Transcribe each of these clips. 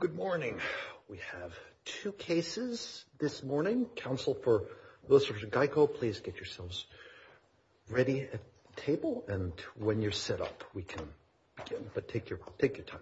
Good morning. We have two cases this morning. Council for Lewis v. Geico, please get yourselves ready at the table, and when you're set up, we can begin. But take your time.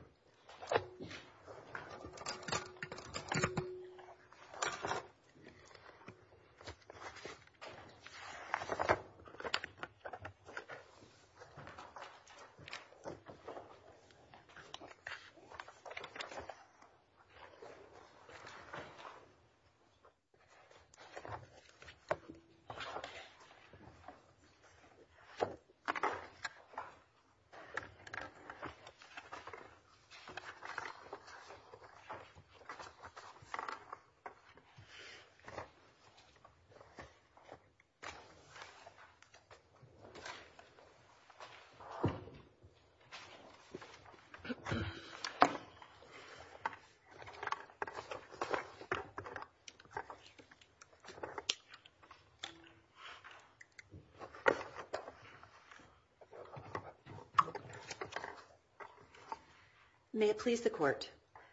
May it please the Court.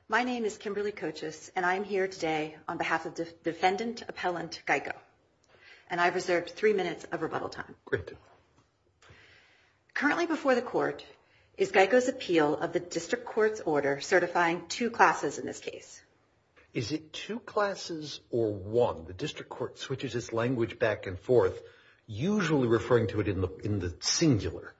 My name is Kimberly Cochis, and I am here today on behalf of Defendant Appellant Geico. And I've reserved three minutes of rebuttal time. Great. Currently before the Court is Geico's appeal of the District Court's order certifying two classes in this case. Is it two classes or one? The District Court switches its language back and forth, usually referring to it in the singular.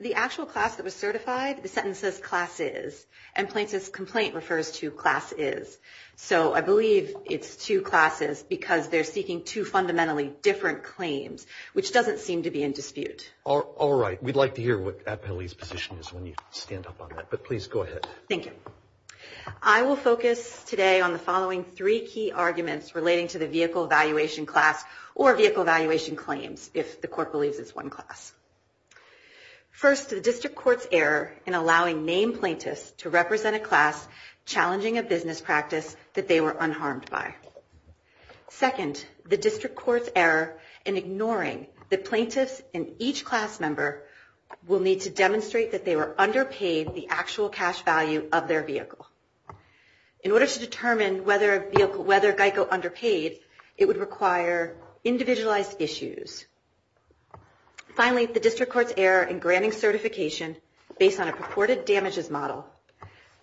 The actual class that was certified, the sentence says, class is. And plaintiff's complaint refers to class is. So I believe it's two classes because they're seeking two fundamentally different claims, which doesn't seem to be in dispute. All right. We'd like to hear what Appellee's position is when you stand up on that. But please go ahead. Thank you. I will focus today on the following three key arguments relating to the vehicle evaluation class or vehicle evaluation claims, if the Court believes it's one class. First, the District Court's error in allowing named plaintiffs to represent a class challenging a business practice that they were unharmed by. Second, the District Court's error in ignoring that plaintiffs and each class member will need to demonstrate that they were underpaid the actual cash value of their vehicle. In order to determine whether Geico underpaid, it would require individualized issues. Finally, the District Court's error in granting certification based on a purported damages model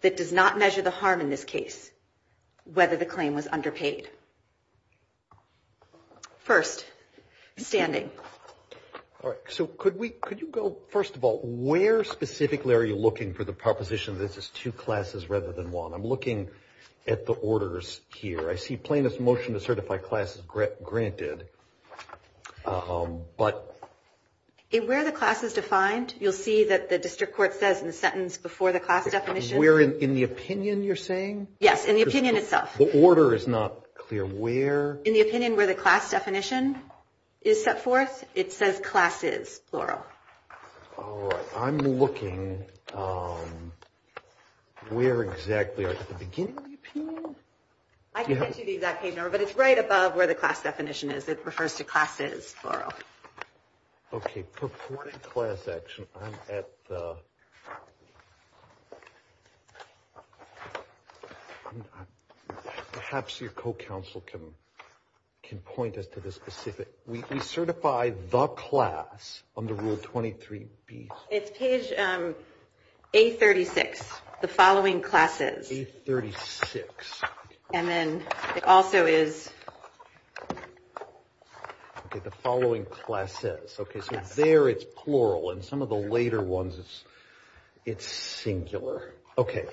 that does not measure the harm in this case, whether the claim was underpaid. First, standing. All right. So could you go, first of all, where specifically are you looking for the proposition that this is two classes rather than one? I'm looking at the orders here. I see plaintiff's motion to certify classes granted. But where the class is defined, you'll see that the District Court says in the sentence before the class definition. Where in the opinion you're saying? Yes, in the opinion itself. The order is not clear where? In the opinion where the class definition is set forth, it says classes, plural. All right. I'm looking where exactly. At the beginning of the opinion? I can't give you the exact page number, but it's right above where the class definition is. It refers to classes, plural. Okay. Purported class action. Perhaps your co-counsel can point us to the specific. We certify the class under Rule 23B. It's page A36, the following classes. A36. And then it also is. Okay. The following classes. Okay. So there it's plural. And some of the later ones, it's singular. Okay.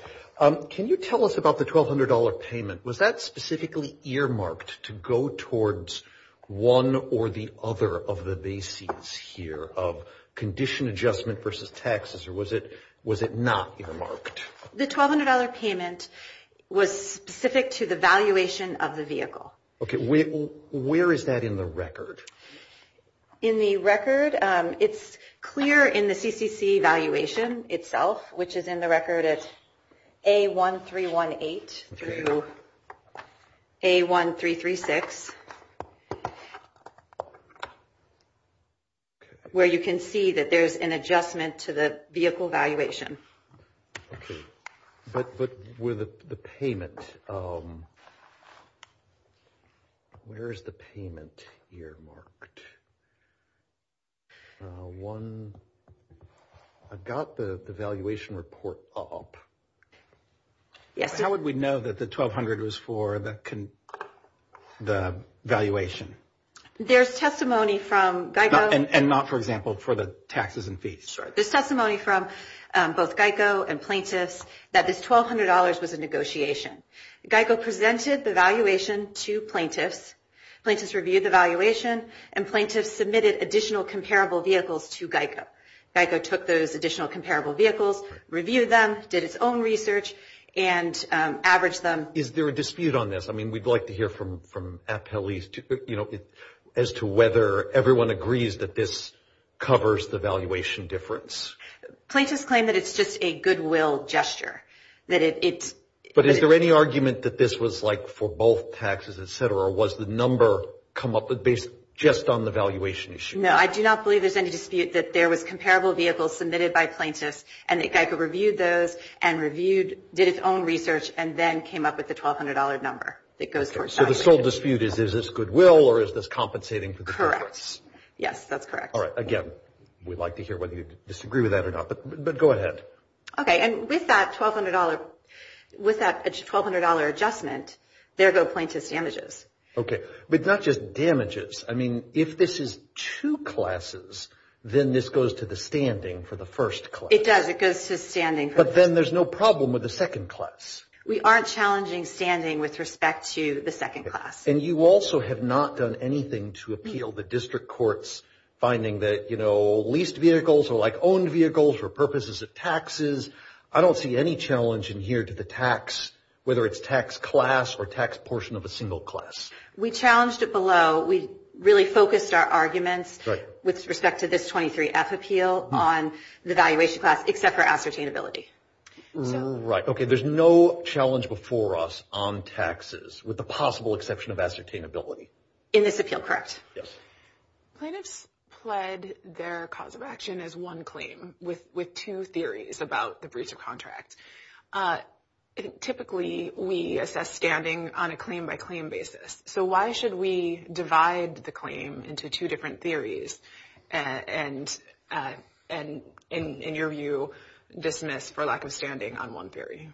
Can you tell us about the $1,200 payment? Was that specifically earmarked to go towards one or the other of the bases here of condition adjustment versus taxes? Or was it not earmarked? The $1,200 payment was specific to the valuation of the vehicle. Okay. Where is that in the record? In the record, it's clear in the CCC valuation itself, which is in the record at A1318 through A1336, where you can see that there's an adjustment to the vehicle valuation. Okay. But with the payment, where is the payment earmarked? One, I've got the valuation report up. How would we know that the $1,200 was for the valuation? There's testimony from Geico. And not, for example, for the taxes and fees? There's testimony from both Geico and plaintiffs that this $1,200 was a negotiation. Geico presented the valuation to plaintiffs. Plaintiffs reviewed the valuation. And plaintiffs submitted additional comparable vehicles to Geico. Geico took those additional comparable vehicles, reviewed them, did its own research, and averaged them. Is there a dispute on this? I mean, we'd like to hear from appellees as to whether everyone agrees that this covers the valuation difference. Plaintiffs claim that it's just a goodwill gesture. But is there any argument that this was like for both taxes, et cetera? Or was the number come up based just on the valuation issue? No, I do not believe there's any dispute that there was comparable vehicles submitted by plaintiffs, and that Geico reviewed those and reviewed, did its own research, and then came up with the $1,200 number. So the sole dispute is, is this goodwill or is this compensating for the difference? Correct. Yes, that's correct. All right, again, we'd like to hear whether you disagree with that or not, but go ahead. Okay, and with that $1,200 adjustment, there go plaintiff's damages. Okay, but not just damages. I mean, if this is two classes, then this goes to the standing for the first class. It does. It goes to standing. But then there's no problem with the second class. We aren't challenging standing with respect to the second class. And you also have not done anything to appeal the district court's finding that, you know, leased vehicles are like owned vehicles for purposes of taxes. I don't see any challenge in here to the tax, whether it's tax class or tax portion of a single class. We challenged it below. So we really focused our arguments with respect to this 23-F appeal on the valuation class, except for ascertainability. Right. Okay, there's no challenge before us on taxes with the possible exception of ascertainability. In this appeal, correct. Yes. Plaintiffs pled their cause of action as one claim with two theories about the breach of contract. Typically, we assess standing on a claim-by-claim basis. So why should we divide the claim into two different theories and, in your view, dismiss for lack of standing on one theory?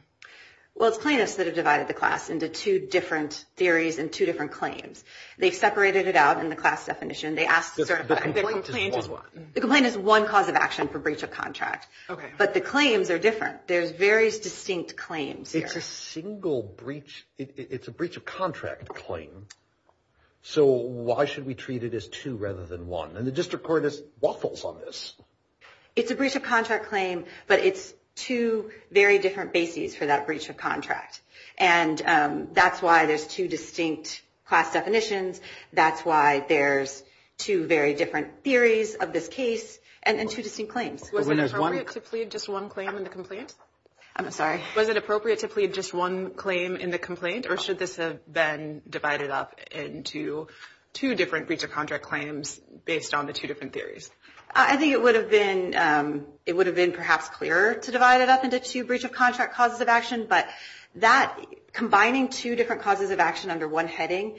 Well, it's plaintiffs that have divided the class into two different theories and two different claims. They've separated it out in the class definition. The complaint is one. The complaint is one cause of action for breach of contract. Okay. But the claims are different. There's various distinct claims here. It's a breach of contract claim. So why should we treat it as two rather than one? And the district court just waffles on this. It's a breach of contract claim, but it's two very different bases for that breach of contract. And that's why there's two distinct class definitions. That's why there's two very different theories of this case and two distinct claims. Was it appropriate to plead just one claim in the complaint? I'm sorry? Was it appropriate to plead just one claim in the complaint, or should this have been divided up into two different breach of contract claims based on the two different theories? I think it would have been perhaps clearer to divide it up into two breach of contract causes of action, but combining two different causes of action under one heading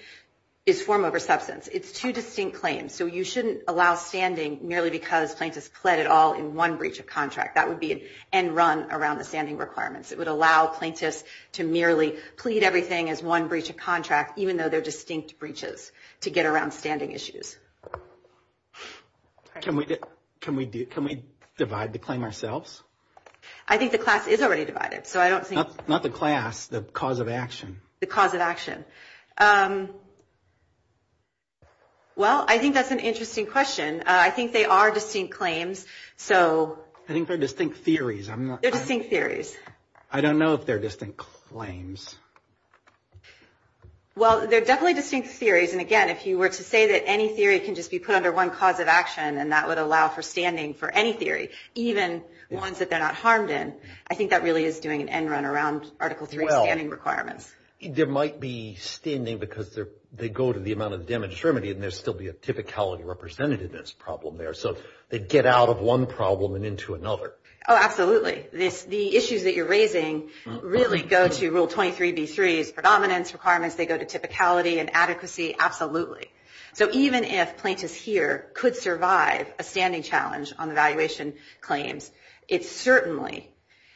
is form over substance. It's two distinct claims. So you shouldn't allow standing merely because plaintiffs pled it all in one breach of contract. That would be an end run around the standing requirements. It would allow plaintiffs to merely plead everything as one breach of contract, even though they're distinct breaches, to get around standing issues. Can we divide the claim ourselves? I think the class is already divided. Not the class, the cause of action. The cause of action. Well, I think that's an interesting question. I think they are distinct claims, so. I think they're distinct theories. They're distinct theories. I don't know if they're distinct claims. Well, they're definitely distinct theories. And, again, if you were to say that any theory can just be put under one cause of action and that would allow for standing for any theory, even ones that they're not harmed in, I think that really is doing an end run around Article III standing requirements. There might be standing because they go to the amount of damage remedy, and there would still be a typicality represented in this problem there. So they get out of one problem and into another. Oh, absolutely. The issues that you're raising really go to Rule 23B3's predominance requirements. They go to typicality and adequacy. Absolutely. So even if plaintiffs here could survive a standing challenge on the valuation claims, it certainly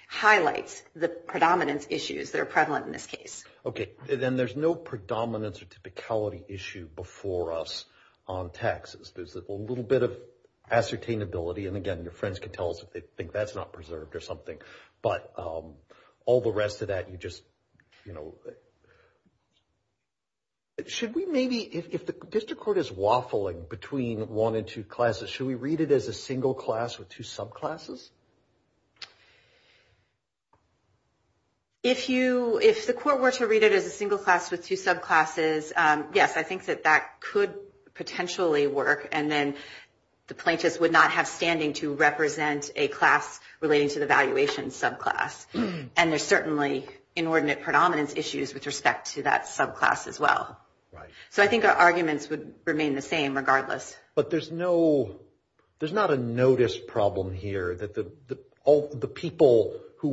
highlights the predominance issues that are prevalent in this case. Okay. Then there's no predominance or typicality issue before us on taxes. There's a little bit of ascertainability. And, again, your friends can tell us if they think that's not preserved or something. But all the rest of that you just, you know. Should we maybe, if the district court is waffling between one and two classes, should we read it as a single class with two subclasses? If the court were to read it as a single class with two subclasses, yes, I think that that could potentially work. And then the plaintiffs would not have standing to represent a class relating to the valuation subclass. And there's certainly inordinate predominance issues with respect to that subclass as well. Right. So I think our arguments would remain the same regardless. But there's no, there's not a notice problem here that the people who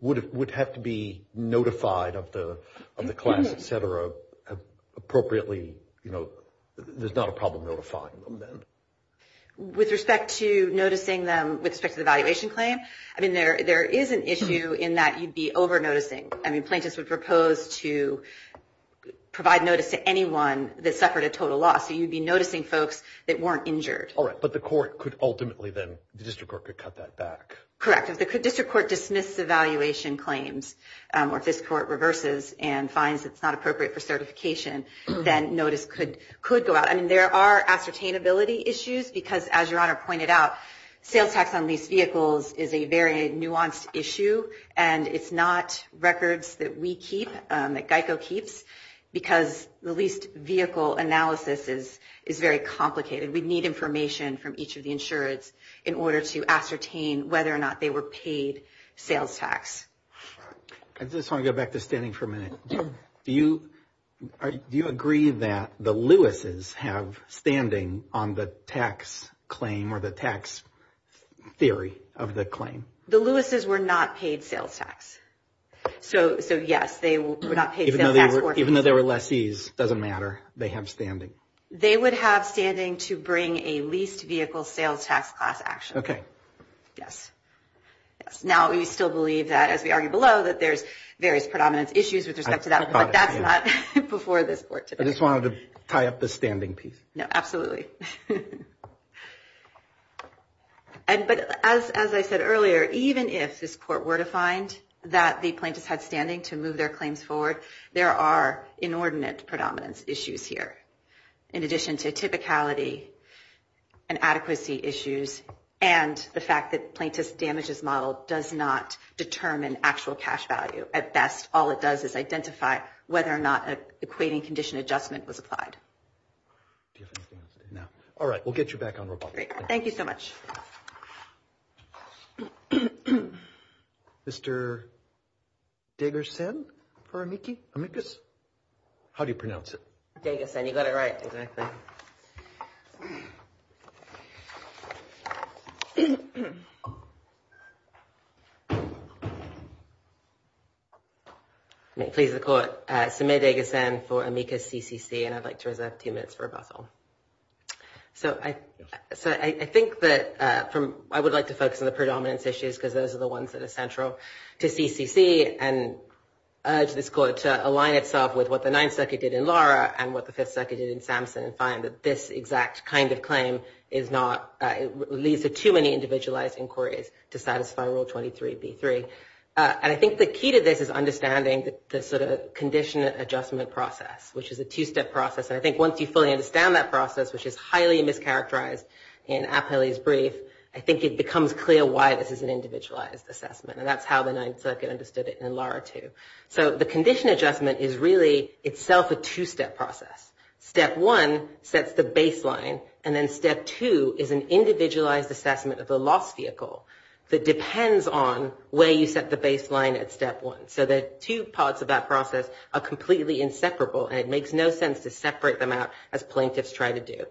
would have to be notified of the class, et cetera, appropriately, you know, there's not a problem notifying them then. With respect to noticing them with respect to the valuation claim, I mean, there is an issue in that you'd be over-noticing. I mean, plaintiffs would propose to provide notice to anyone that suffered a total loss. So you'd be noticing folks that weren't injured. All right. But the court could ultimately then, the district court could cut that back. Correct. If the district court dismisses the valuation claims or if this court reverses and finds it's not appropriate for certification, then notice could go out. I mean, there are ascertainability issues because, as Your Honor pointed out, sales tax on leased vehicles is a very nuanced issue. And it's not records that we keep, that GEICO keeps, because the leased vehicle analysis is very complicated. We need information from each of the insurance in order to ascertain whether or not they were paid sales tax. I just want to go back to standing for a minute. Do you agree that the Lewis's have standing on the tax claim or the tax theory of the claim? The Lewis's were not paid sales tax. So, yes, they were not paid sales tax. Even though they were lessees, it doesn't matter. They have standing. They would have standing to bring a leased vehicle sales tax class action. Okay. Yes. Now, we still believe that, as we argue below, that there's various predominance issues with respect to that. But that's not before this court today. I just wanted to tie up the standing piece. No, absolutely. But, as I said earlier, even if this court were to find that the plaintiffs had standing to move their claims forward, there are inordinate predominance issues here, in addition to typicality and adequacy issues and the fact that plaintiff's damages model does not determine actual cash value. At best, all it does is identify whether or not an equating condition adjustment was applied. Do you have anything else to say? No. All right. We'll get you back on record. Great. Thank you so much. Mr. Dagerson for amicus? Dagerson. You got it right. Exactly. Thank you. I'm pleased to call it. Samir Dagerson for amicus CCC, and I'd like to reserve two minutes for rebuttal. So I think that I would like to focus on the predominance issues because those are the ones that are central to CCC and urge this court to align itself with what the Ninth Circuit did in Lara and what the Fifth Circuit did in Samson and find that this exact kind of claim leads to too many individualized inquiries to satisfy Rule 23B3. And I think the key to this is understanding the sort of condition adjustment process, which is a two-step process, and I think once you fully understand that process, which is highly mischaracterized in Apelli's brief, I think it becomes clear why this is an individualized assessment, and that's how the Ninth Circuit understood it in Lara 2. So the condition adjustment is really itself a two-step process. Step one sets the baseline, and then step two is an individualized assessment of the loss vehicle that depends on where you set the baseline at step one. So the two parts of that process are completely inseparable, and it makes no sense to separate them out as plaintiffs try to do.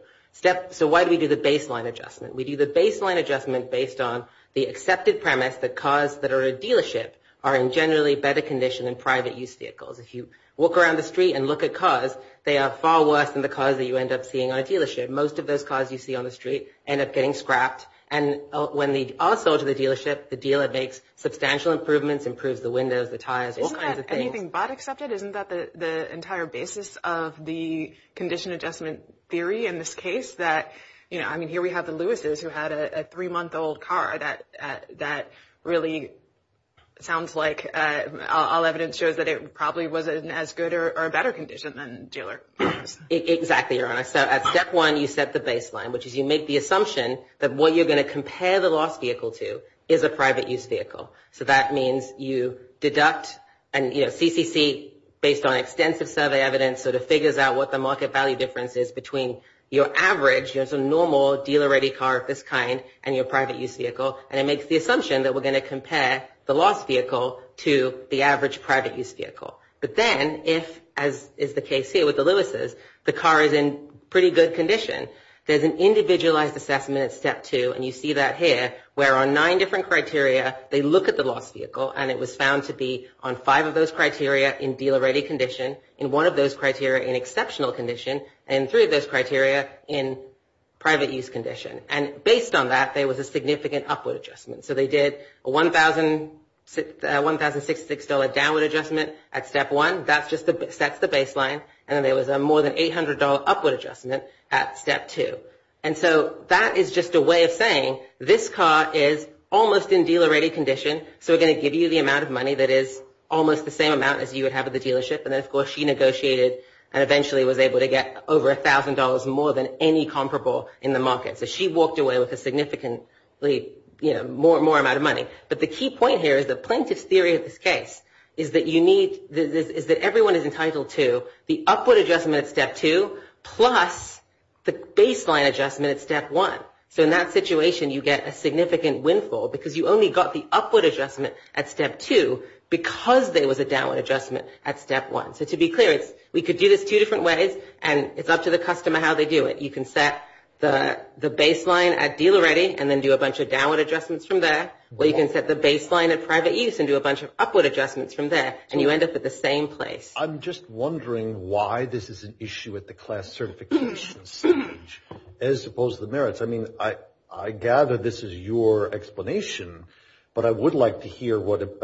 So why do we do the baseline adjustment? We do the baseline adjustment based on the accepted premise that cars that are a dealership are in generally better condition than private use vehicles. If you walk around the street and look at cars, they are far worse than the cars that you end up seeing on a dealership. Most of those cars you see on the street end up getting scrapped, and when they are sold to the dealership, the dealer makes substantial improvements, improves the windows, the tires, all kinds of things. Isn't that anything but accepted? Isn't that the entire basis of the condition adjustment theory in this case that, you know, I mean, here we have the Lewises who had a three-month-old car. That really sounds like all evidence shows that it probably wasn't as good or a better condition than a dealer. Exactly, Your Honor. So at step one, you set the baseline, which is you make the assumption that what you're going to compare the loss vehicle to is a private use vehicle. So that means you deduct and, you know, CCC, based on extensive survey evidence, sort of figures out what the market value difference is between your average, your normal dealer-ready car of this kind and your private use vehicle, and it makes the assumption that we're going to compare the loss vehicle to the average private use vehicle. But then if, as is the case here with the Lewises, the car is in pretty good condition, there's an individualized assessment at step two, and you see that here, where on nine different criteria, they look at the loss vehicle, and it was found to be on five of those criteria in dealer-ready condition, in one of those criteria in exceptional condition, and three of those criteria in private use condition. And based on that, there was a significant upward adjustment. So they did a $1,066 downward adjustment at step one. That just sets the baseline. And then there was a more than $800 upward adjustment at step two. And so that is just a way of saying this car is almost in dealer-ready condition, so we're going to give you the amount of money that is almost the same amount as you would have at the dealership, and then, of course, she negotiated and eventually was able to get over $1,000 more than any comparable in the market. So she walked away with a significantly more amount of money. But the key point here is the plaintiff's theory of this case is that everyone is entitled to the upward adjustment at step two plus the baseline adjustment at step one. So in that situation, you get a significant windfall because you only got the upward adjustment at step two because there was a downward adjustment at step one. So to be clear, we could do this two different ways, and it's up to the customer how they do it. You can set the baseline at dealer-ready and then do a bunch of downward adjustments from there, or you can set the baseline at private use and do a bunch of upward adjustments from there, and you end up at the same place. I'm just wondering why this is an issue at the class certification stage, as opposed to the merits. I mean, I gather this is your explanation, but I would like to hear what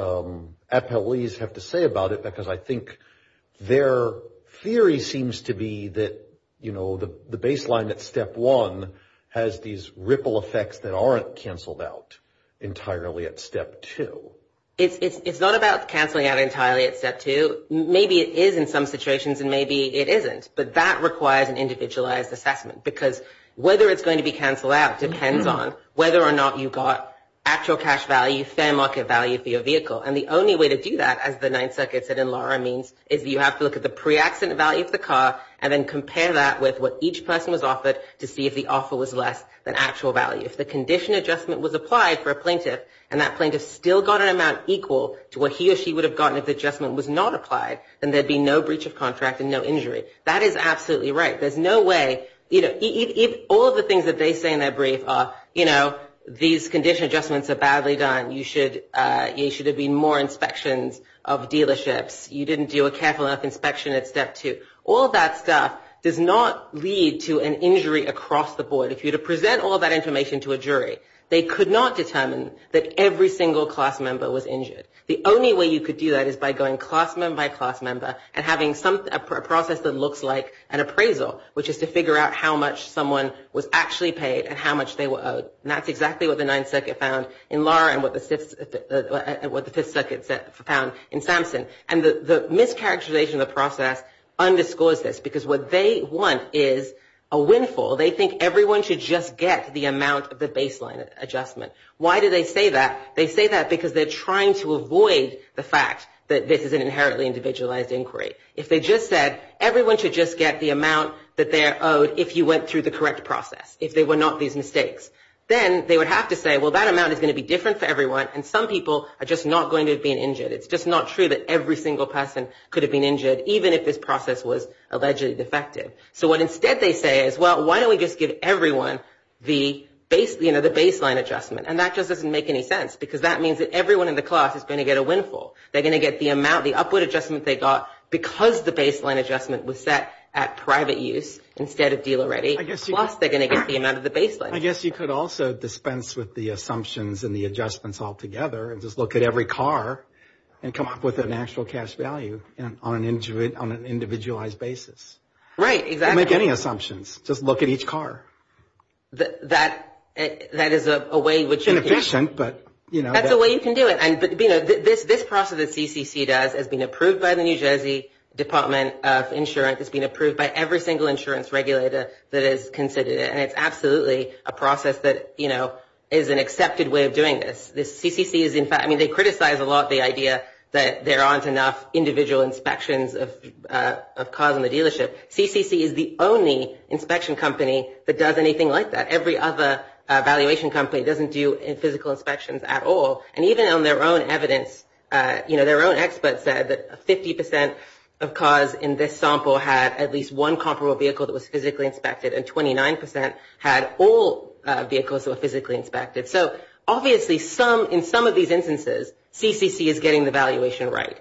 FLEs have to say about it, because I think their theory seems to be that, you know, the baseline at step one has these ripple effects that aren't canceled out entirely at step two. It's not about canceling out entirely at step two. Maybe it is in some situations, and maybe it isn't, but that requires an individualized assessment, because whether it's going to be canceled out depends on whether or not you got actual cash value, fair market value for your vehicle. And the only way to do that, as the Ninth Circuit said and Laura means, is you have to look at the pre-accident value of the car and then compare that with what each person was offered to see if the offer was less than actual value. If the condition adjustment was applied for a plaintiff, and that plaintiff still got an amount equal to what he or she would have gotten if the adjustment was not applied, then there would be no breach of contract and no injury. That is absolutely right. There's no way, you know, all of the things that they say in their brief are, you know, these condition adjustments are badly done. You should have been more inspections of dealerships. You didn't do a careful enough inspection at step two. All that stuff does not lead to an injury across the board. If you were to present all that information to a jury, they could not determine that every single class member was injured. The only way you could do that is by going class member by class member and having a process that looks like an appraisal, which is to figure out how much someone was actually paid and how much they were owed. And that's exactly what the Ninth Circuit found in Laura and what the Fifth Circuit found in Samson. And the mischaracterization of the process underscores this because what they want is a windfall. They think everyone should just get the amount of the baseline adjustment. Why do they say that? They say that because they're trying to avoid the fact that this is an inherently individualized inquiry. If they just said everyone should just get the amount that they're owed if you went through the correct process, if they were not these mistakes, then they would have to say, well, that amount is going to be different for everyone and some people are just not going to be injured. It's just not true that every single person could have been injured, even if this process was allegedly defective. So what instead they say is, well, why don't we just give everyone the baseline adjustment? And that just doesn't make any sense because that means that everyone in the class is going to get a windfall. They're going to get the amount, the upward adjustment they got, because the baseline adjustment was set at private use instead of dealer ready. Plus, they're going to get the amount of the baseline. I guess you could also dispense with the assumptions and the adjustments altogether and just look at every car and come up with an actual cash value on an individualized basis. Right, exactly. Don't make any assumptions. Just look at each car. That is a way in which you can do it. That's a way you can do it. This process that CCC does has been approved by the New Jersey Department of Insurance. It's been approved by every single insurance regulator that has considered it, and it's absolutely a process that is an accepted way of doing this. They criticize a lot the idea that there aren't enough individual inspections of cars in the dealership. CCC is the only inspection company that does anything like that. Every other valuation company doesn't do physical inspections at all. Even on their own evidence, their own experts said that 50% of cars in this sample had at least one comparable vehicle that was physically inspected, and 29% had all vehicles that were physically inspected. Obviously, in some of these instances, CCC is getting the valuation right.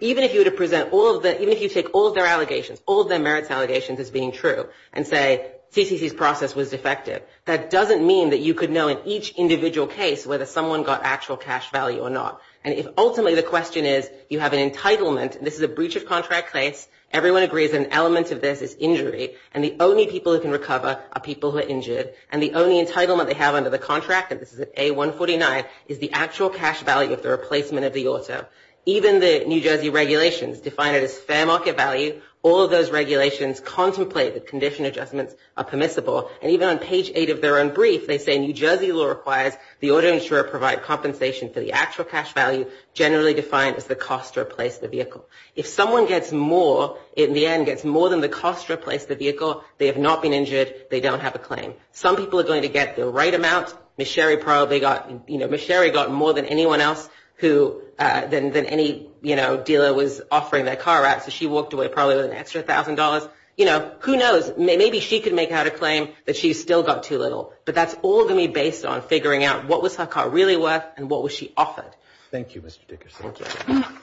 Even if you were to present all of the, even if you take all of their allegations, all of their merits allegations as being true, and say CCC's process was defective, that doesn't mean that you could know in each individual case whether someone got actual cash value or not. And if ultimately the question is you have an entitlement, this is a breach of contract case, everyone agrees an element of this is injury, and the only people who can recover are people who are injured, and the only entitlement they have under the contract, and this is at A149, is the actual cash value of the replacement of the auto. Even the New Jersey regulations define it as fair market value. All of those regulations contemplate that condition adjustments are permissible, and even on page 8 of their own brief, they say New Jersey law requires the auto insurer provide compensation for the actual cash value, generally defined as the cost to replace the vehicle. If someone gets more, in the end, gets more than the cost to replace the vehicle, they have not been injured, they don't have a claim. Some people are going to get the right amount. Ms. Sherry probably got, you know, Ms. Sherry got more than anyone else who, than any, you know, dealer was offering their car at, so she walked away probably with an extra $1,000. You know, who knows? Maybe she could make out a claim that she still got too little, but that's all going to be based on figuring out what was her car really worth and what was she offered. Thank you, Mr. Dickerson. Thank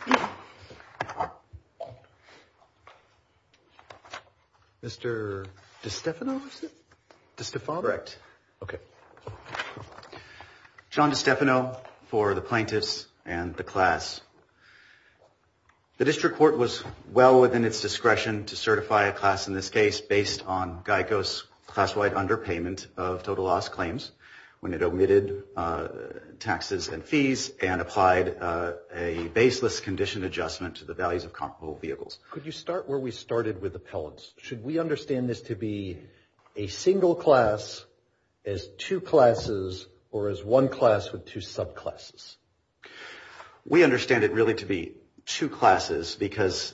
you. Mr. DeStefano? DeStefano? Correct. Okay. John DeStefano for the plaintiffs and the class. The district court was well within its discretion to certify a class in this case based on GEICO's class-wide underpayment of total loss claims when it omitted taxes and fees and applied a baseless condition adjustment to the values of comparable vehicles. Could you start where we started with appellants? Should we understand this to be a single class, as two classes, or as one class with two subclasses? We understand it really to be two classes because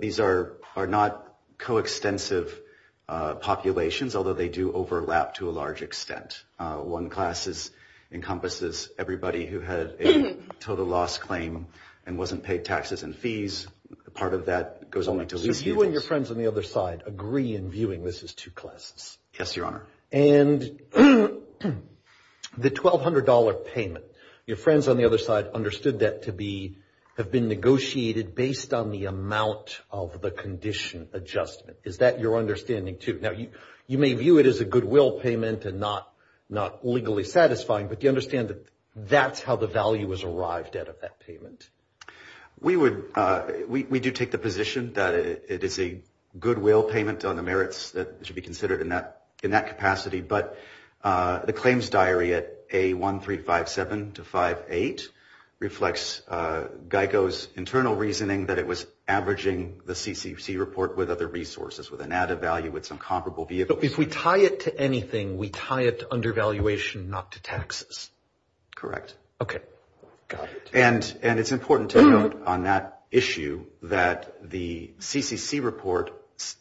these are not coextensive populations, although they do overlap to a large extent. One class encompasses everybody who had a total loss claim and wasn't paid taxes and fees. Part of that goes only to lease vehicles. You and your friends on the other side agree in viewing this as two classes. Yes, Your Honor. And the $1,200 payment, your friends on the other side understood that to be, have been negotiated based on the amount of the condition adjustment. Is that your understanding too? Now, you may view it as a goodwill payment and not legally satisfying, but do you understand that that's how the value was arrived at of that payment? We do take the position that it is a goodwill payment on the merits that should be considered in that capacity, but the claims diary at A1357-58 reflects GEICO's internal reasoning that it was averaging the CCC report with other resources, with an added value, with some comparable vehicles. If we tie it to anything, we tie it to undervaluation, not to taxes. Correct. Okay. Got it. And it's important to note on that issue that the CCC report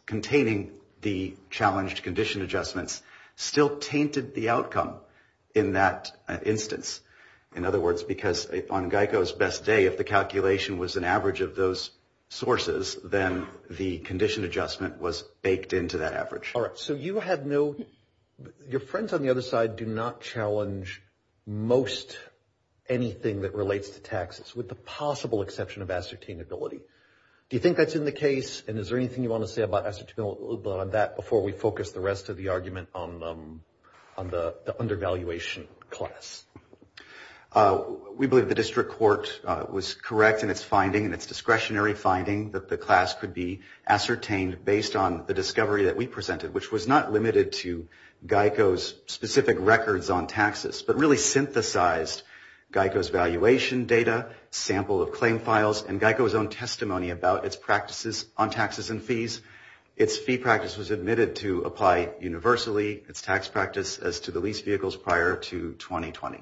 containing the challenged condition adjustments still tainted the outcome in that instance. In other words, because on GEICO's best day, if the calculation was an average of those sources, then the condition adjustment was baked into that average. All right. So you had no, your friends on the other side do not challenge most anything that relates to taxes, with the possible exception of ascertainability. Do you think that's in the case, and is there anything you want to say about ascertainability on that before we focus the rest of the argument on the undervaluation class? We believe the district court was correct in its finding, in its discretionary finding, that the class could be ascertained based on the discovery that we presented, which was not limited to GEICO's specific records on taxes, but really synthesized GEICO's valuation data, sample of claim files, and GEICO's own testimony about its practices on taxes and fees. Its fee practice was admitted to apply universally, its tax practice as to the lease vehicles prior to 2020.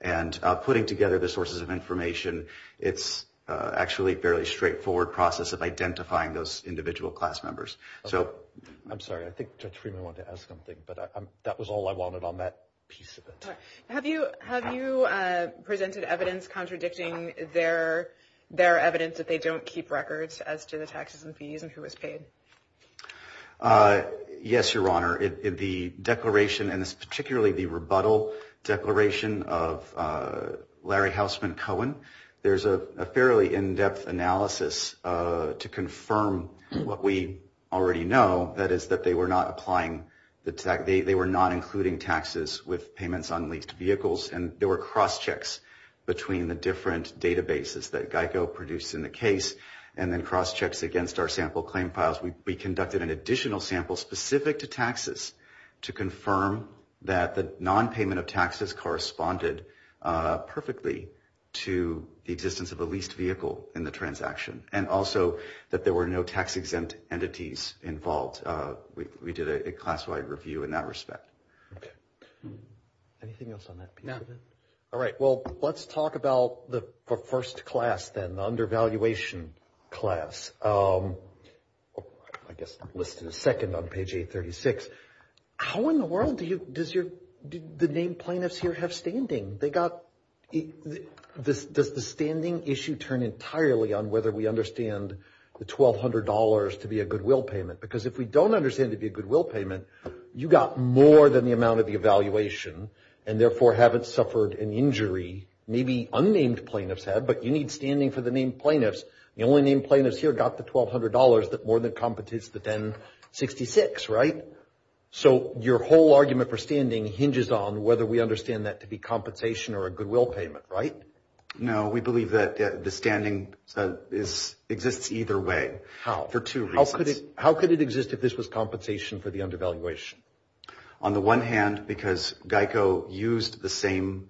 And putting together the sources of information, it's actually a fairly straightforward process of identifying those individual class members. I'm sorry, I think Judge Freeman wanted to ask something, but that was all I wanted on that piece of it. Have you presented evidence contradicting their evidence that they don't keep records as to the taxes and fees and who was paid? Yes, Your Honor. In the declaration, and it's particularly the rebuttal declaration of Larry Houseman Cohen, there's a fairly in-depth analysis to confirm what we already know, that is that they were not applying the tax, they were not including taxes with payments on leased vehicles, and there were cross-checks between the different databases that GEICO produced in the case, and then cross-checks against our sample claim files. We conducted an additional sample specific to taxes to confirm that the non-payment of taxes corresponded perfectly to the existence of a leased vehicle in the transaction, and also that there were no tax-exempt entities involved. We did a class-wide review in that respect. Okay. Anything else on that piece of it? No. All right. Well, let's talk about the first class then, the undervaluation class. I guess listed second on page 836. How in the world did the named plaintiffs here have standing? Does the standing issue turn entirely on whether we understand the $1,200 to be a goodwill payment? Because if we don't understand it to be a goodwill payment, you got more than the amount of the evaluation, and therefore haven't suffered an injury. Maybe unnamed plaintiffs have, but you need standing for the named plaintiffs. The only named plaintiffs here got the $1,200 that more than competes the 1066, right? So your whole argument for standing hinges on whether we understand that to be compensation or a goodwill payment, right? No. We believe that the standing exists either way. How? For two reasons. How could it exist if this was compensation for the undervaluation? On the one hand, because GEICO used the same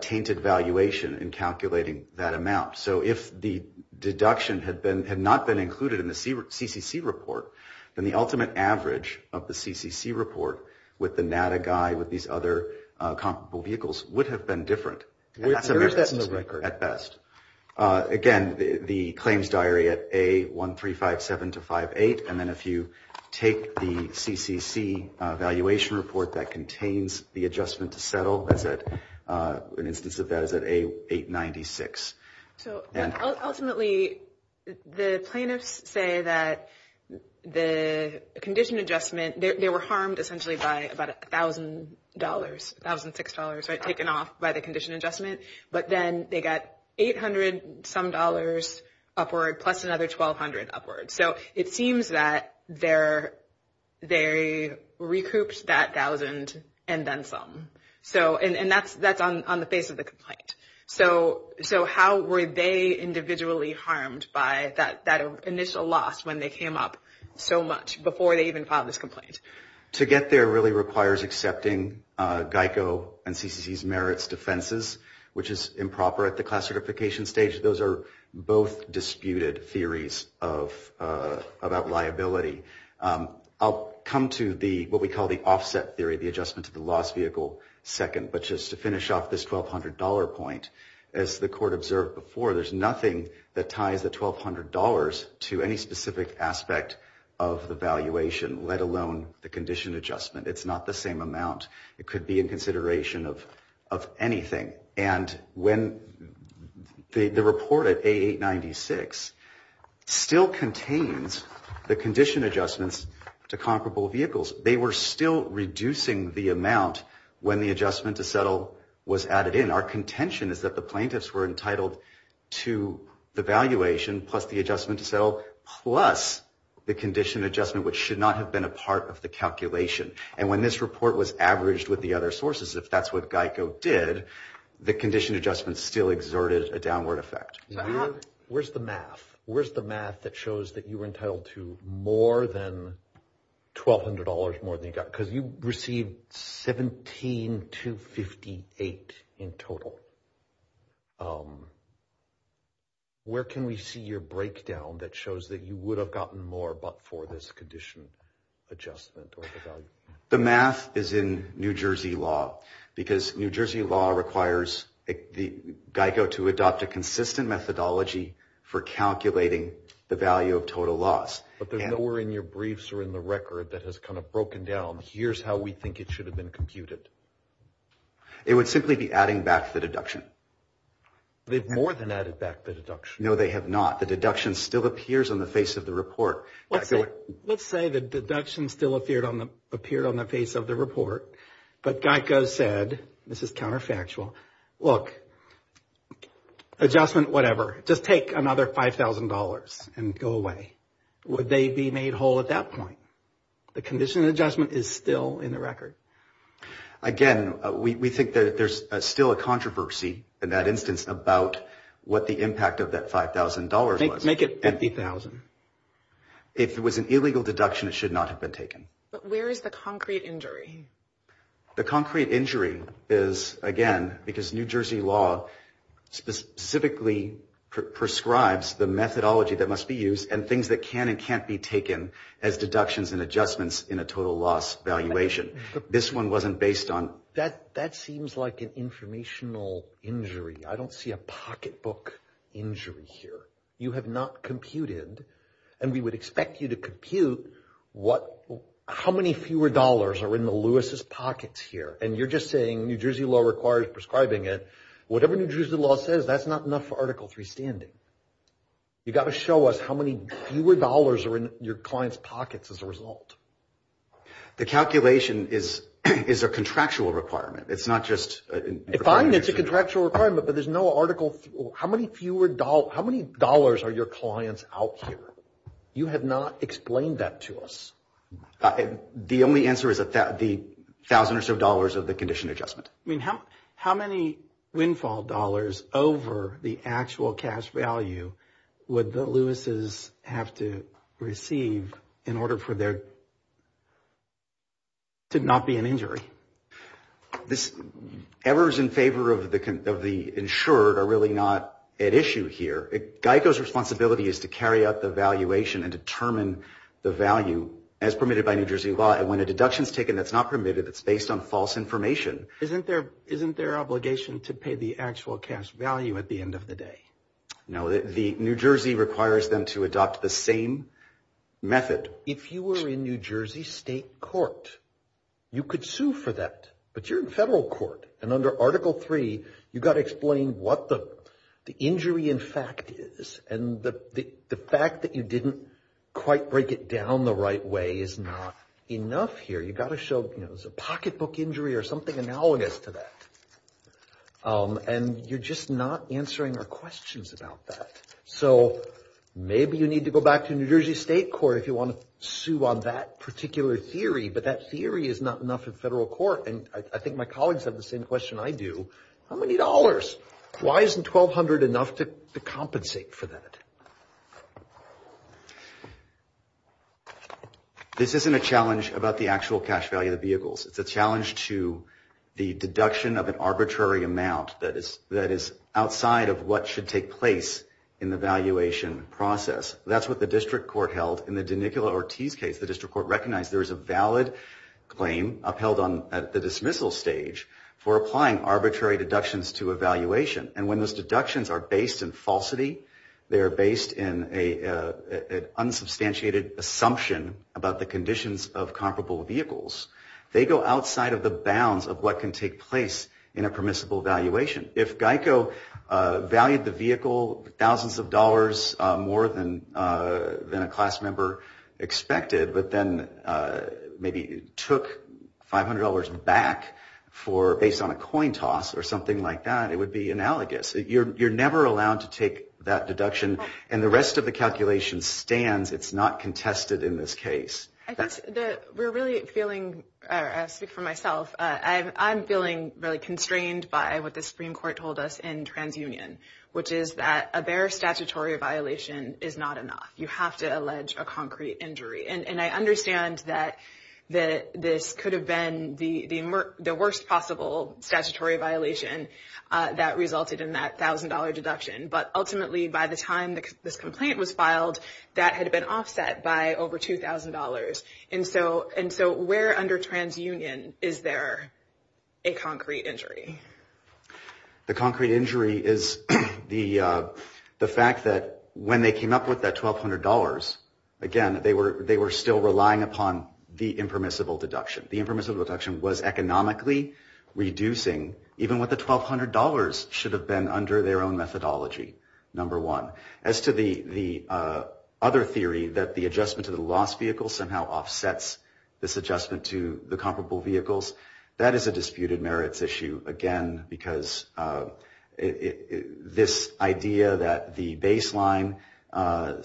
tainted valuation in calculating that amount. So if the deduction had not been included in the CCC report, then the ultimate average of the CCC report with the NADA guy, with these other comparable vehicles, would have been different. Where is that in the record? At best. Again, the claims diary at A1357-58, and then if you take the CCC evaluation report that contains the adjustment to settle, an instance of that is at A896. Ultimately, the plaintiffs say that the condition adjustment, they were harmed essentially by about $1,000, $1,006, right, taken off by the condition adjustment. But then they got $800-some upward plus another $1,200 upward. So it seems that they recouped that thousand and then some. And that's on the face of the complaint. So how were they individually harmed by that initial loss when they came up with so much before they even filed this complaint? To get there really requires accepting GEICO and CCC's merits defenses, which is improper at the class certification stage. Those are both disputed theories about liability. I'll come to what we call the offset theory, the adjustment to the loss vehicle second. But just to finish off this $1,200 point, as the court observed before, there's nothing that ties the $1,200 to any specific aspect of the valuation, let alone the condition adjustment. It's not the same amount. It could be in consideration of anything. And when the report at A896 still contains the condition adjustments to comparable vehicles, they were still reducing the amount when the adjustment to settle was added in. Our contention is that the plaintiffs were entitled to the valuation plus the adjustment to settle plus the condition adjustment, which should not have been a part of the calculation. And when this report was averaged with the other sources, if that's what GEICO did, the condition adjustment still exerted a downward effect. Where's the math? Where's the math that shows that you were entitled to more than $1,200 more than you got? Because you received $17,258 in total. Where can we see your breakdown that shows that you would have gotten more but for this condition adjustment or the value? The math is in New Jersey law because New Jersey law requires GEICO to adopt a consistent methodology for calculating the value of total loss. But there's nowhere in your briefs or in the record that has kind of broken down, here's how we think it should have been computed. It would simply be adding back the deduction. They've more than added back the deduction. No, they have not. The deduction still appears on the face of the report. Let's say the deduction still appeared on the face of the report, but GEICO said, this is counterfactual, look, adjustment whatever, just take another $5,000 and go away. Would they be made whole at that point? The condition of the judgment is still in the record. Again, we think that there's still a controversy in that instance about what the impact of that $5,000 was. Make it $50,000. If it was an illegal deduction, it should not have been taken. But where is the concrete injury? The concrete injury is, again, because New Jersey law specifically prescribes the methodology that must be used and things that can and can't be taken as deductions and adjustments in a total loss valuation. This one wasn't based on. That seems like an informational injury. I don't see a pocketbook injury here. You have not computed, and we would expect you to compute, how many fewer dollars are in the Louis's pockets here? And you're just saying New Jersey law requires prescribing it. Whatever New Jersey law says, that's not enough for Article III standing. You got to show us how many fewer dollars are in your client's pockets as a result. The calculation is a contractual requirement. It's not just. Fine, it's a contractual requirement, but there's no article. How many dollars are your clients out here? You have not explained that to us. The only answer is the thousand or so dollars of the condition adjustment. I mean, how many windfall dollars over the actual cash value would the Louis's have to receive in order for there to not be an injury? This ever is in favor of the insured are really not at issue here. Geico's responsibility is to carry out the valuation and determine the value as permitted by New Jersey law. And when a deduction is taken, that's not permitted. It's based on false information. Isn't there, isn't there obligation to pay the actual cash value at the end of the day? No, the New Jersey requires them to adopt the same method. If you were in New Jersey state court, you could sue for that, but you're in federal court and under Article III, you've got to explain what the injury in fact is. And the fact that you didn't quite break it down the right way is not enough here. You've got to show, you know, there's a pocketbook injury or something analogous to that. And you're just not answering our questions about that. So maybe you need to go back to New Jersey state court if you want to sue on that particular theory. But that theory is not enough in federal court. And I think my colleagues have the same question I do. How many dollars? Why isn't 1200 enough to compensate for that? This isn't a challenge about the actual cash value of the vehicles. It's a challenge to the deduction of an arbitrary amount that is, that is outside of what should take place in the valuation process. That's what the district court held in the Danicola Ortiz case. The district court recognized there is a valid claim upheld at the dismissal stage for applying arbitrary deductions to a valuation. And when those deductions are based in falsity, they are based in an unsubstantiated assumption about the conditions of comparable vehicles. They go outside of the bounds of what can take place in a permissible valuation. If Geico valued the vehicle thousands of dollars more than a class member expected, but then maybe took $500 back for, based on a coin toss or something like that, it would be analogous. You're never allowed to take that deduction. And the rest of the calculation stands. It's not contested in this case. I think that we're really feeling, I speak for myself, I'm feeling really constrained by what the Supreme Court told us in TransUnion, which is that a bare statutory violation is not enough. You have to allege a concrete injury. And I understand that this could have been the worst possible statutory violation that resulted in that $1,000 deduction. But ultimately, by the time this complaint was filed, that had been offset by over $2,000. And so where under TransUnion is there a concrete injury? The concrete injury is the fact that when they came up with that $1,200, again, they were still relying upon the impermissible deduction. The impermissible deduction was economically reducing even what the $1,200 should have been under their own methodology, number one. As to the other theory that the adjustment to the lost vehicle somehow offsets this adjustment to the comparable vehicles, that is a disputed merits issue, again, because this idea that the baseline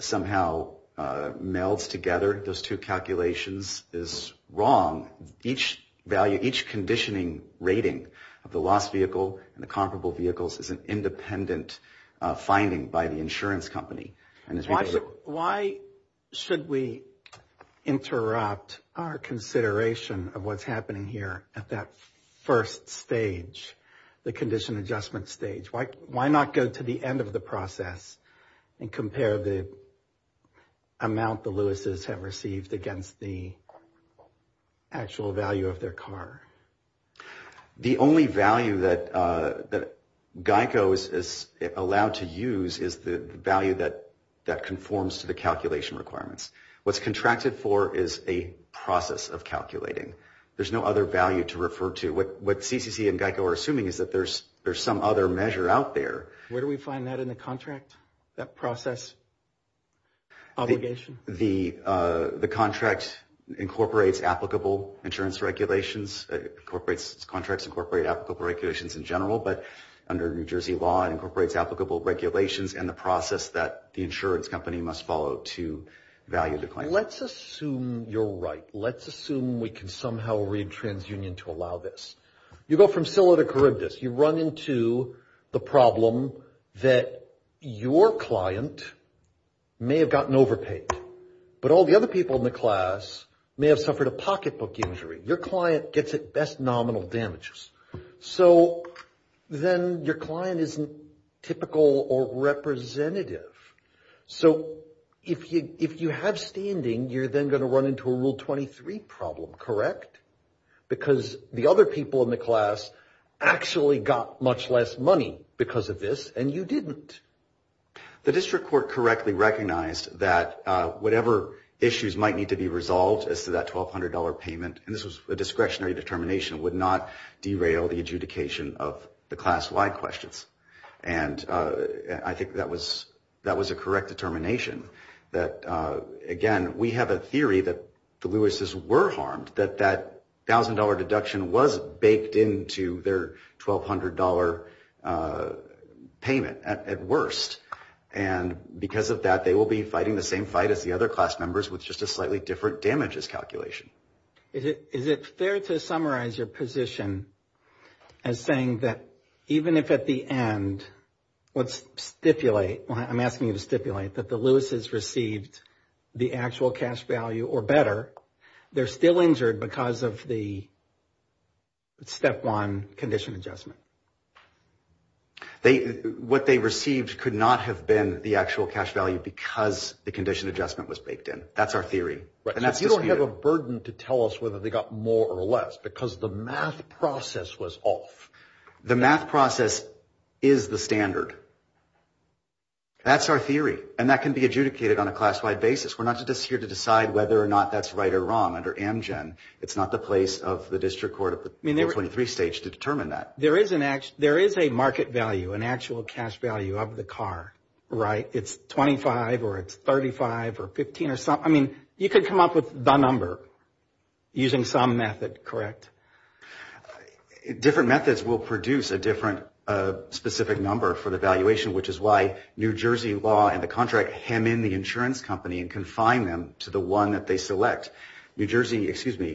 somehow melds together those two calculations is wrong. Each value, each conditioning rating of the lost vehicle and the comparable vehicles is an independent finding by the insurance company. Why should we interrupt our consideration of what's happening here at that first stage, the condition adjustment stage? Why not go to the end of the process and compare the amount the Lewises have received against the actual value of their car? The only value that GEICO is allowed to use is the value that conforms to the calculation requirements. What's contracted for is a process of calculating. There's no other value to refer to. What CCC and GEICO are assuming is that there's some other measure out there. Where do we find that in the contract, that process obligation? The contract incorporates applicable insurance regulations. Contracts incorporate applicable regulations in general, but under New Jersey law, it incorporates applicable regulations and the process that the insurance company must follow to value the claim. Let's assume you're right. Let's assume we can somehow read TransUnion to allow this. You go from Sylla to Charybdis. You run into the problem that your client may have gotten overpaid, but all the other people in the class may have suffered a pocketbook injury. Your client gets at best nominal damages. So then your client isn't typical or representative. So if you have standing, you're then going to run into a Rule 23 problem, correct? Because the other people in the class actually got much less money because of this, and you didn't. The district court correctly recognized that whatever issues might need to be resolved as to that $1,200 payment, and this was a discretionary determination, would not derail the adjudication of the class-wide questions. And I think that was a correct determination that, again, we have a theory that the Lewises were harmed, that that $1,000 deduction was baked into their $1,200 payment at worst. And because of that, they will be fighting the same fight as the other class members with just a slightly different damages calculation. Is it fair to summarize your position as saying that even if at the end, let's stipulate, I'm asking you to stipulate, that the Lewises received the actual cash value or better, they're still injured because of the Step 1 condition adjustment? What they received could not have been the actual cash value because the condition adjustment was baked in. That's our theory. Right. So you don't have a burden to tell us whether they got more or less because the math process was off. The math process is the standard. That's our theory, and that can be adjudicated on a class-wide basis. We're not just here to decide whether or not that's right or wrong under Amgen. It's not the place of the district court of the 23 states to determine that. There is a market value, an actual cash value of the car, right? It's $25 or it's $35 or $15 or something. I mean, you could come up with the number using some method, correct? Different methods will produce a different specific number for the valuation, which is why New Jersey law and the contract hem in the insurance company and confine them to the one that they select. New Jersey, excuse me,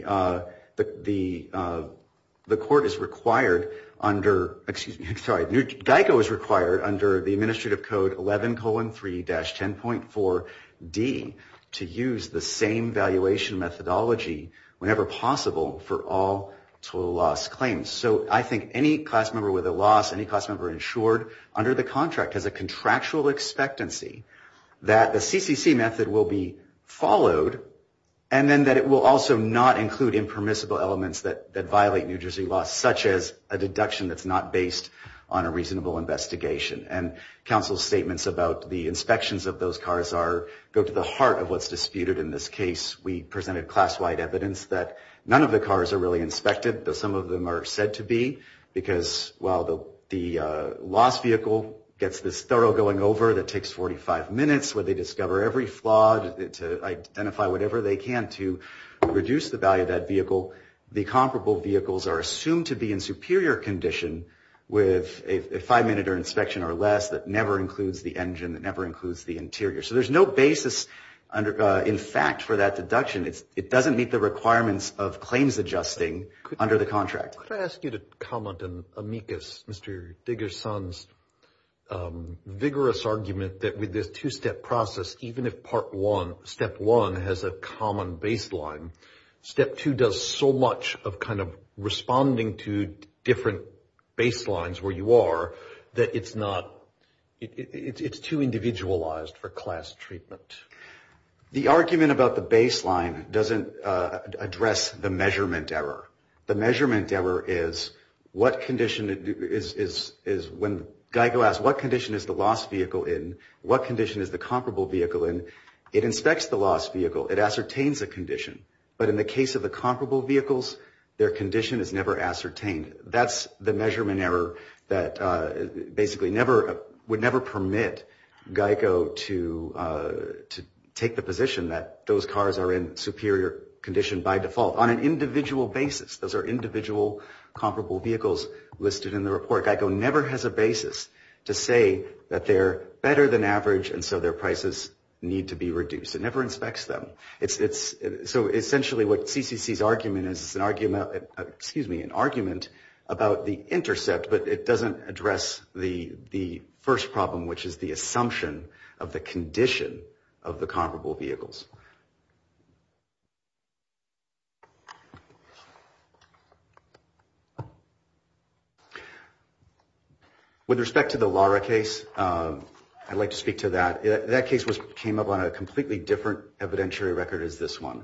the court is required under, excuse me, I'm sorry, GEICO is required under the administrative code 11-3-10.4D to use the same valuation methodology whenever possible for all total loss claims. So I think any class member with a loss, any class member insured under the contract has a contractual expectancy that the CCC method will be followed and then that it will also not include impermissible elements that violate New Jersey law, such as a deduction that's not based on a reasonable investigation. And counsel's statements about the inspections of those cars go to the heart of what's disputed in this case. We presented class-wide evidence that none of the cars are really inspected, though some of them are said to be, because while the lost vehicle gets this thorough going over that takes 45 minutes where they discover every flaw to identify whatever they can to reduce the value of that vehicle, the comparable vehicles are assumed to be in superior condition with a five-minute inspection or less that never includes the engine, that never includes the interior. So there's no basis in fact for that deduction. It doesn't meet the requirements of claims adjusting under the contract. Could I ask you to comment on Amicus, Mr. Diggerson's vigorous argument that with this two-step process, even if step one has a common baseline, step two does so much of kind of responding to different baselines where you are that it's too individualized for class treatment. The argument about the baseline doesn't address the measurement error. The measurement error is when GEICO asks what condition is the lost vehicle in, what condition is the comparable vehicle in, it inspects the lost vehicle. It ascertains a condition. But in the case of the comparable vehicles, their condition is never ascertained. That's the measurement error that basically would never permit GEICO to take the position that those cars are in superior condition by default. On an individual basis, those are individual comparable vehicles listed in the report. GEICO never has a basis to say that they're better than average and so their prices need to be reduced. It never inspects them. So essentially what CCC's argument is is an argument about the intercept, but it doesn't address the first problem, which is the assumption of the condition of the comparable vehicles. With respect to the Lara case, I'd like to speak to that. That case came up on a completely different evidentiary record as this one.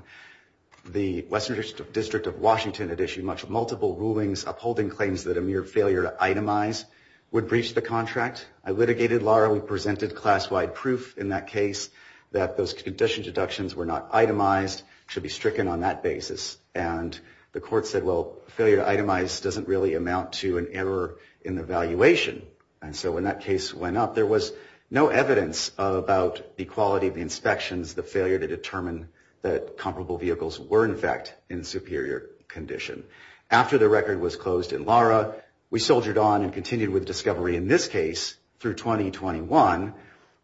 The Western District of Washington had issued multiple rulings upholding claims that a mere failure to itemize would breach the contract. I litigated Lara. We presented class-wide proof in that case that those condition deductions were not itemized, should be stricken on that basis. And the court said, well, failure to itemize doesn't really amount to an error in the valuation. And so when that case went up, there was no evidence about the quality of the inspections, the failure to determine that comparable vehicles were in fact in superior condition. After the record was closed in Lara, we soldiered on and continued with discovery in this case through 2021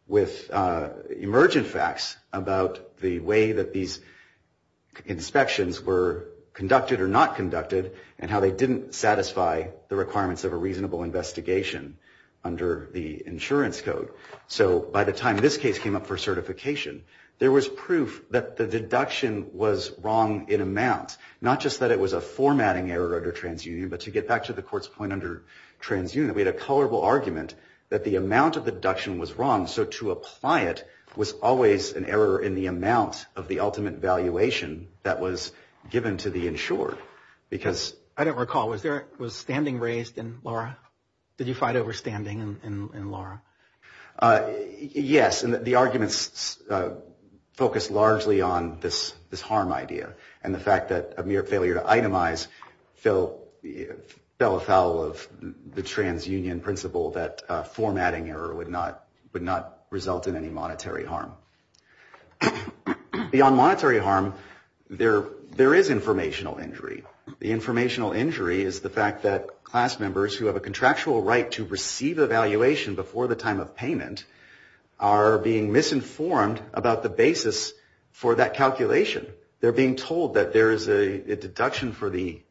with emergent facts about the way that these inspections were conducted or not conducted and how they didn't satisfy the requirements of a reasonable investigation under the insurance code. So by the time this case came up for certification, there was proof that the deduction was wrong in amount, not just that it was a formatting error under TransUnion, but to get back to the court's point under TransUnion, we had a colorable argument that the amount of deduction was wrong. So to apply it was always an error in the amount of the ultimate valuation that was given to the insured. Because I don't recall, was there was standing raised in Lara? Did you fight over standing in Lara? Yes. And the arguments focused largely on this harm idea and the fact that a mere failure to itemize fell afoul of the TransUnion principle that formatting error would not result in any monetary harm. Beyond monetary harm, there is informational injury. The informational injury is the fact that class members who have a contractual right to receive a valuation before the time of payment are being misinformed about the basis for that calculation. They're being told that there is a deduction for the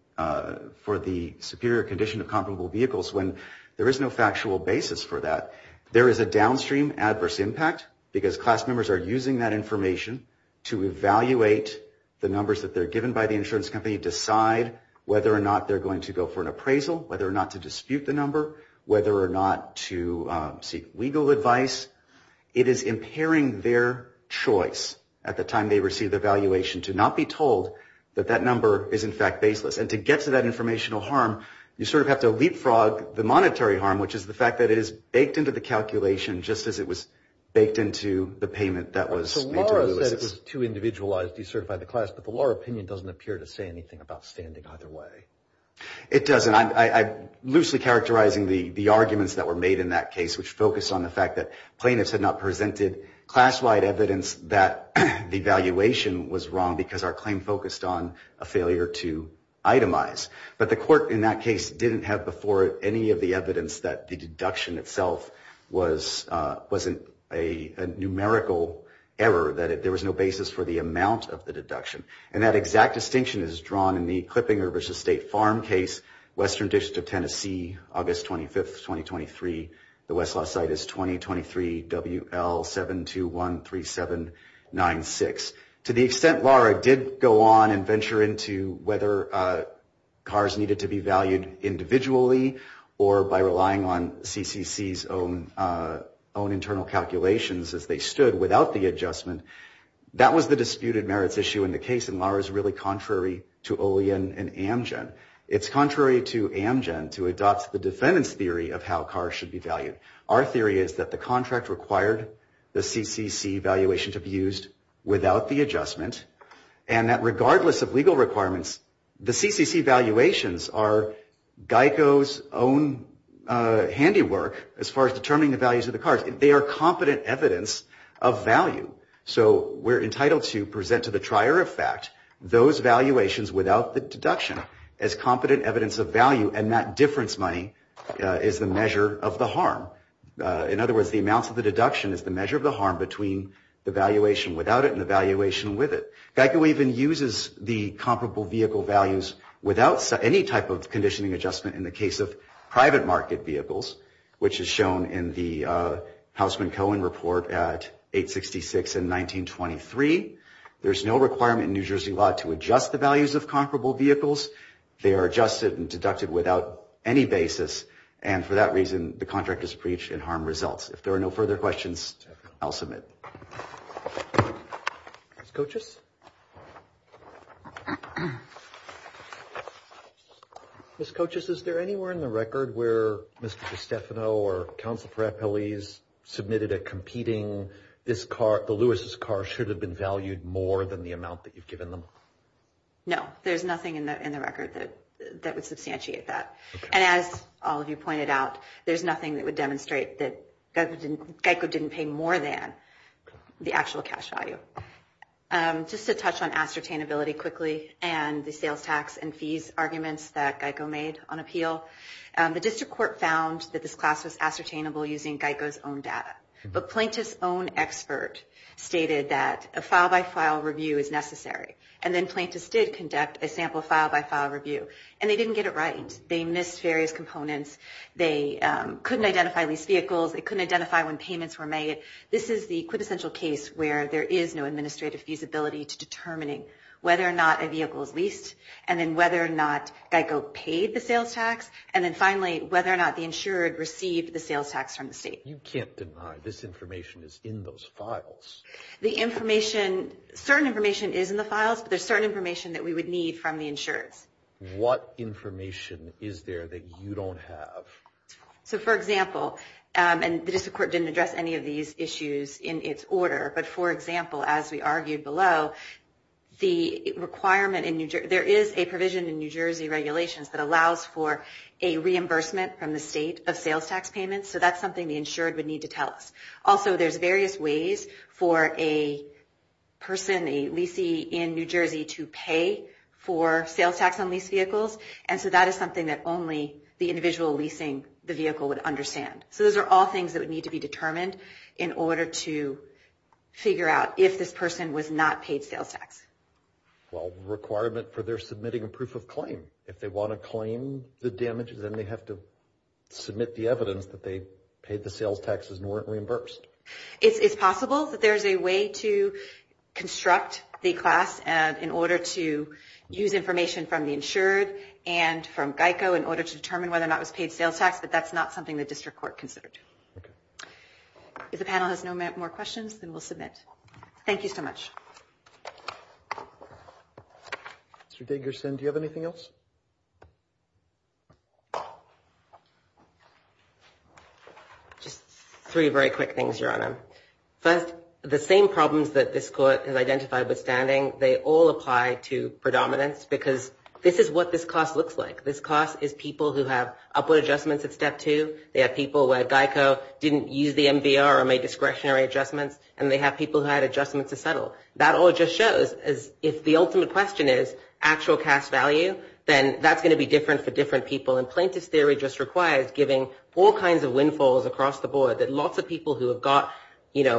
superior condition of comparable vehicles when there is no factual basis for that. There is a downstream adverse impact because class members are using that information to evaluate the numbers that they're given by the insurance company, decide whether or not they're going to go for an appraisal, whether or not to dispute the number, whether or not to seek legal advice. It is impairing their choice at the time they receive the valuation to not be told that that number is in fact baseless. And to get to that informational harm, you sort of have to leapfrog the monetary harm, which is the fact that it is baked into the calculation just as it was baked into the payment that was made to Ulysses. So Lara said it was too individualized, decertified the class, but the Lara opinion doesn't appear to say anything about standing either way. It doesn't. I'm loosely characterizing the arguments that were made in that case, which focused on the fact that plaintiffs had not presented class-wide evidence that the valuation was wrong because our claim focused on a failure to itemize. But the court in that case didn't have before it any of the evidence that the deduction itself wasn't a numerical error, that there was no basis for the amount of the deduction. And that exact distinction is drawn in the Clippinger v. State Farm case, Western District of Tennessee, August 25, 2023. The West Lost Site is 2023, WL7213796. To the extent Lara did go on and venture into whether cars needed to be valued individually or by relying on CCC's own internal calculations as they stood without the adjustment, that was the disputed merits issue in the case, and Lara is really contrary to Olian and Amgen. It's contrary to Amgen to adopt the defendant's theory of how cars should be valued. Our theory is that the contract required the CCC valuation to be used without the adjustment, and that regardless of legal requirements, the CCC valuations are GEICO's own handiwork as far as determining the values of the cars. They are competent evidence of value. So we're entitled to present to the trier of fact those valuations without the deduction. As competent evidence of value, and that difference money is the measure of the harm. In other words, the amounts of the deduction is the measure of the harm between the valuation without it and the valuation with it. GEICO even uses the comparable vehicle values without any type of conditioning adjustment in the case of private market vehicles, which is shown in the Houseman Cohen report at 866 in 1923. There's no requirement in New Jersey law to adjust the values of comparable vehicles. They are adjusted and deducted without any basis, and for that reason the contract is breached and harm results. If there are no further questions, I'll submit. Ms. Cochis? Ms. Cochis, is there anywhere in the record where Mr. DeStefano or counsel for appellees submitted a competing this car, the Lewis's car, should have been valued more than the amount that you've given them? No. There's nothing in the record that would substantiate that. And as all of you pointed out, there's nothing that would demonstrate that GEICO didn't pay more than the actual cash value. Just to touch on ascertainability quickly and the sales tax and fees arguments that GEICO made on appeal, the district court found that this class was ascertainable using GEICO's own data. But plaintiff's own expert stated that a file-by-file review is necessary, and then plaintiffs did conduct a sample file-by-file review, and they didn't get it right. They missed various components. They couldn't identify leased vehicles. They couldn't identify when payments were made. This is the quintessential case where there is no administrative feasibility to determining whether or not a vehicle is leased and then whether or not GEICO paid the sales tax, and then finally whether or not the insured received the sales tax from the state. You can't deny this information is in those files. The information, certain information is in the files, but there's certain information that we would need from the insureds. What information is there that you don't have? So, for example, and the district court didn't address any of these issues in its order, but, for example, as we argued below, the requirement in New Jersey, there is a provision in New Jersey regulations that allows for a reimbursement from the state of sales tax payments, so that's something the insured would need to tell us. Also, there's various ways for a person, a leasee in New Jersey, to pay for sales tax on leased vehicles, and so that is something that only the individual leasing the vehicle would understand. So those are all things that would need to be determined in order to figure out if this person was not paid sales tax. Well, requirement for their submitting a proof of claim. If they want to claim the damages, then they have to submit the evidence that they paid the sales taxes and weren't reimbursed. It's possible that there's a way to construct the class in order to use information from the insured and from GEICO in order to determine whether or not it was paid sales tax, but that's not something the district court considered. If the panel has no more questions, then we'll submit. Thank you so much. Mr. Dagerson, do you have anything else? Just three very quick things, Your Honor. First, the same problems that this court has identified with standing, they all apply to predominance because this is what this class looks like. This class is people who have upward adjustments at step two. They have people where GEICO didn't use the MVR or made discretionary adjustments, and they have people who had adjustments to settle. That all just shows if the ultimate question is actual cash value, then that's going to be different for different people, and plaintiff's theory just requires giving all kinds of windfalls across the board, that lots of people who have got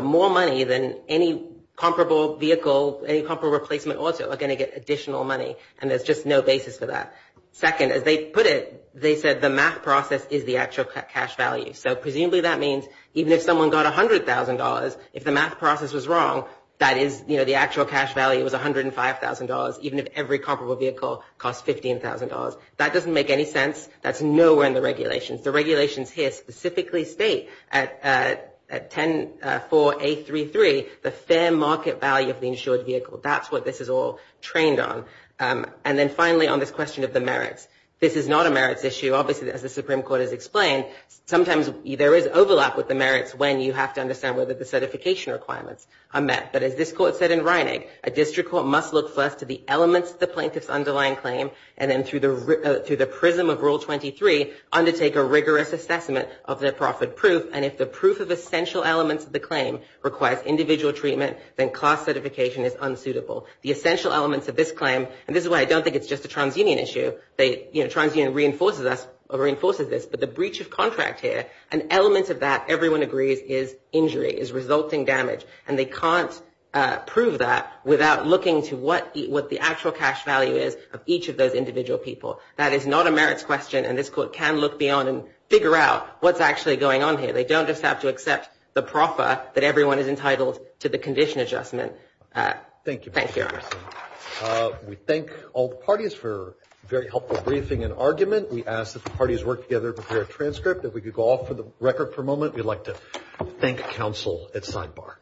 more money than any comparable vehicle, any comparable replacement auto are going to get additional money, and there's just no basis for that. Second, as they put it, they said the math process is the actual cash value, so presumably that means even if someone got $100,000, if the math process was wrong, that is the actual cash value was $105,000, even if every comparable vehicle costs $15,000. That doesn't make any sense. That's nowhere in the regulations. The regulations here specifically state at 10.4.8.3.3, the fair market value of the insured vehicle. That's what this is all trained on. And then finally, on this question of the merits, this is not a merits issue. Obviously, as the Supreme Court has explained, sometimes there is overlap with the merits when you have to understand whether the certification requirements are met. But as this court said in Reinegg, a district court must look first to the elements of the plaintiff's underlying claim and then through the prism of Rule 23, undertake a rigorous assessment of their profit proof, and if the proof of essential elements of the claim requires individual treatment, then class certification is unsuitable. The essential elements of this claim, and this is why I don't think it's just a TransUnion issue, TransUnion reinforces this, but the breach of contract here, an element of that, everyone agrees, is injury, is resulting damage, and they can't prove that without looking to what the actual cash value is of each of those individual people. That is not a merits question, and this court can look beyond and figure out what's actually going on here. They don't just have to accept the proffer that everyone is entitled to the condition adjustment. Thank you. Thank you. We thank all the parties for a very helpful briefing and argument. We ask that the parties work together to prepare a transcript. If we could go off the record for a moment, we'd like to thank counsel at sidebar.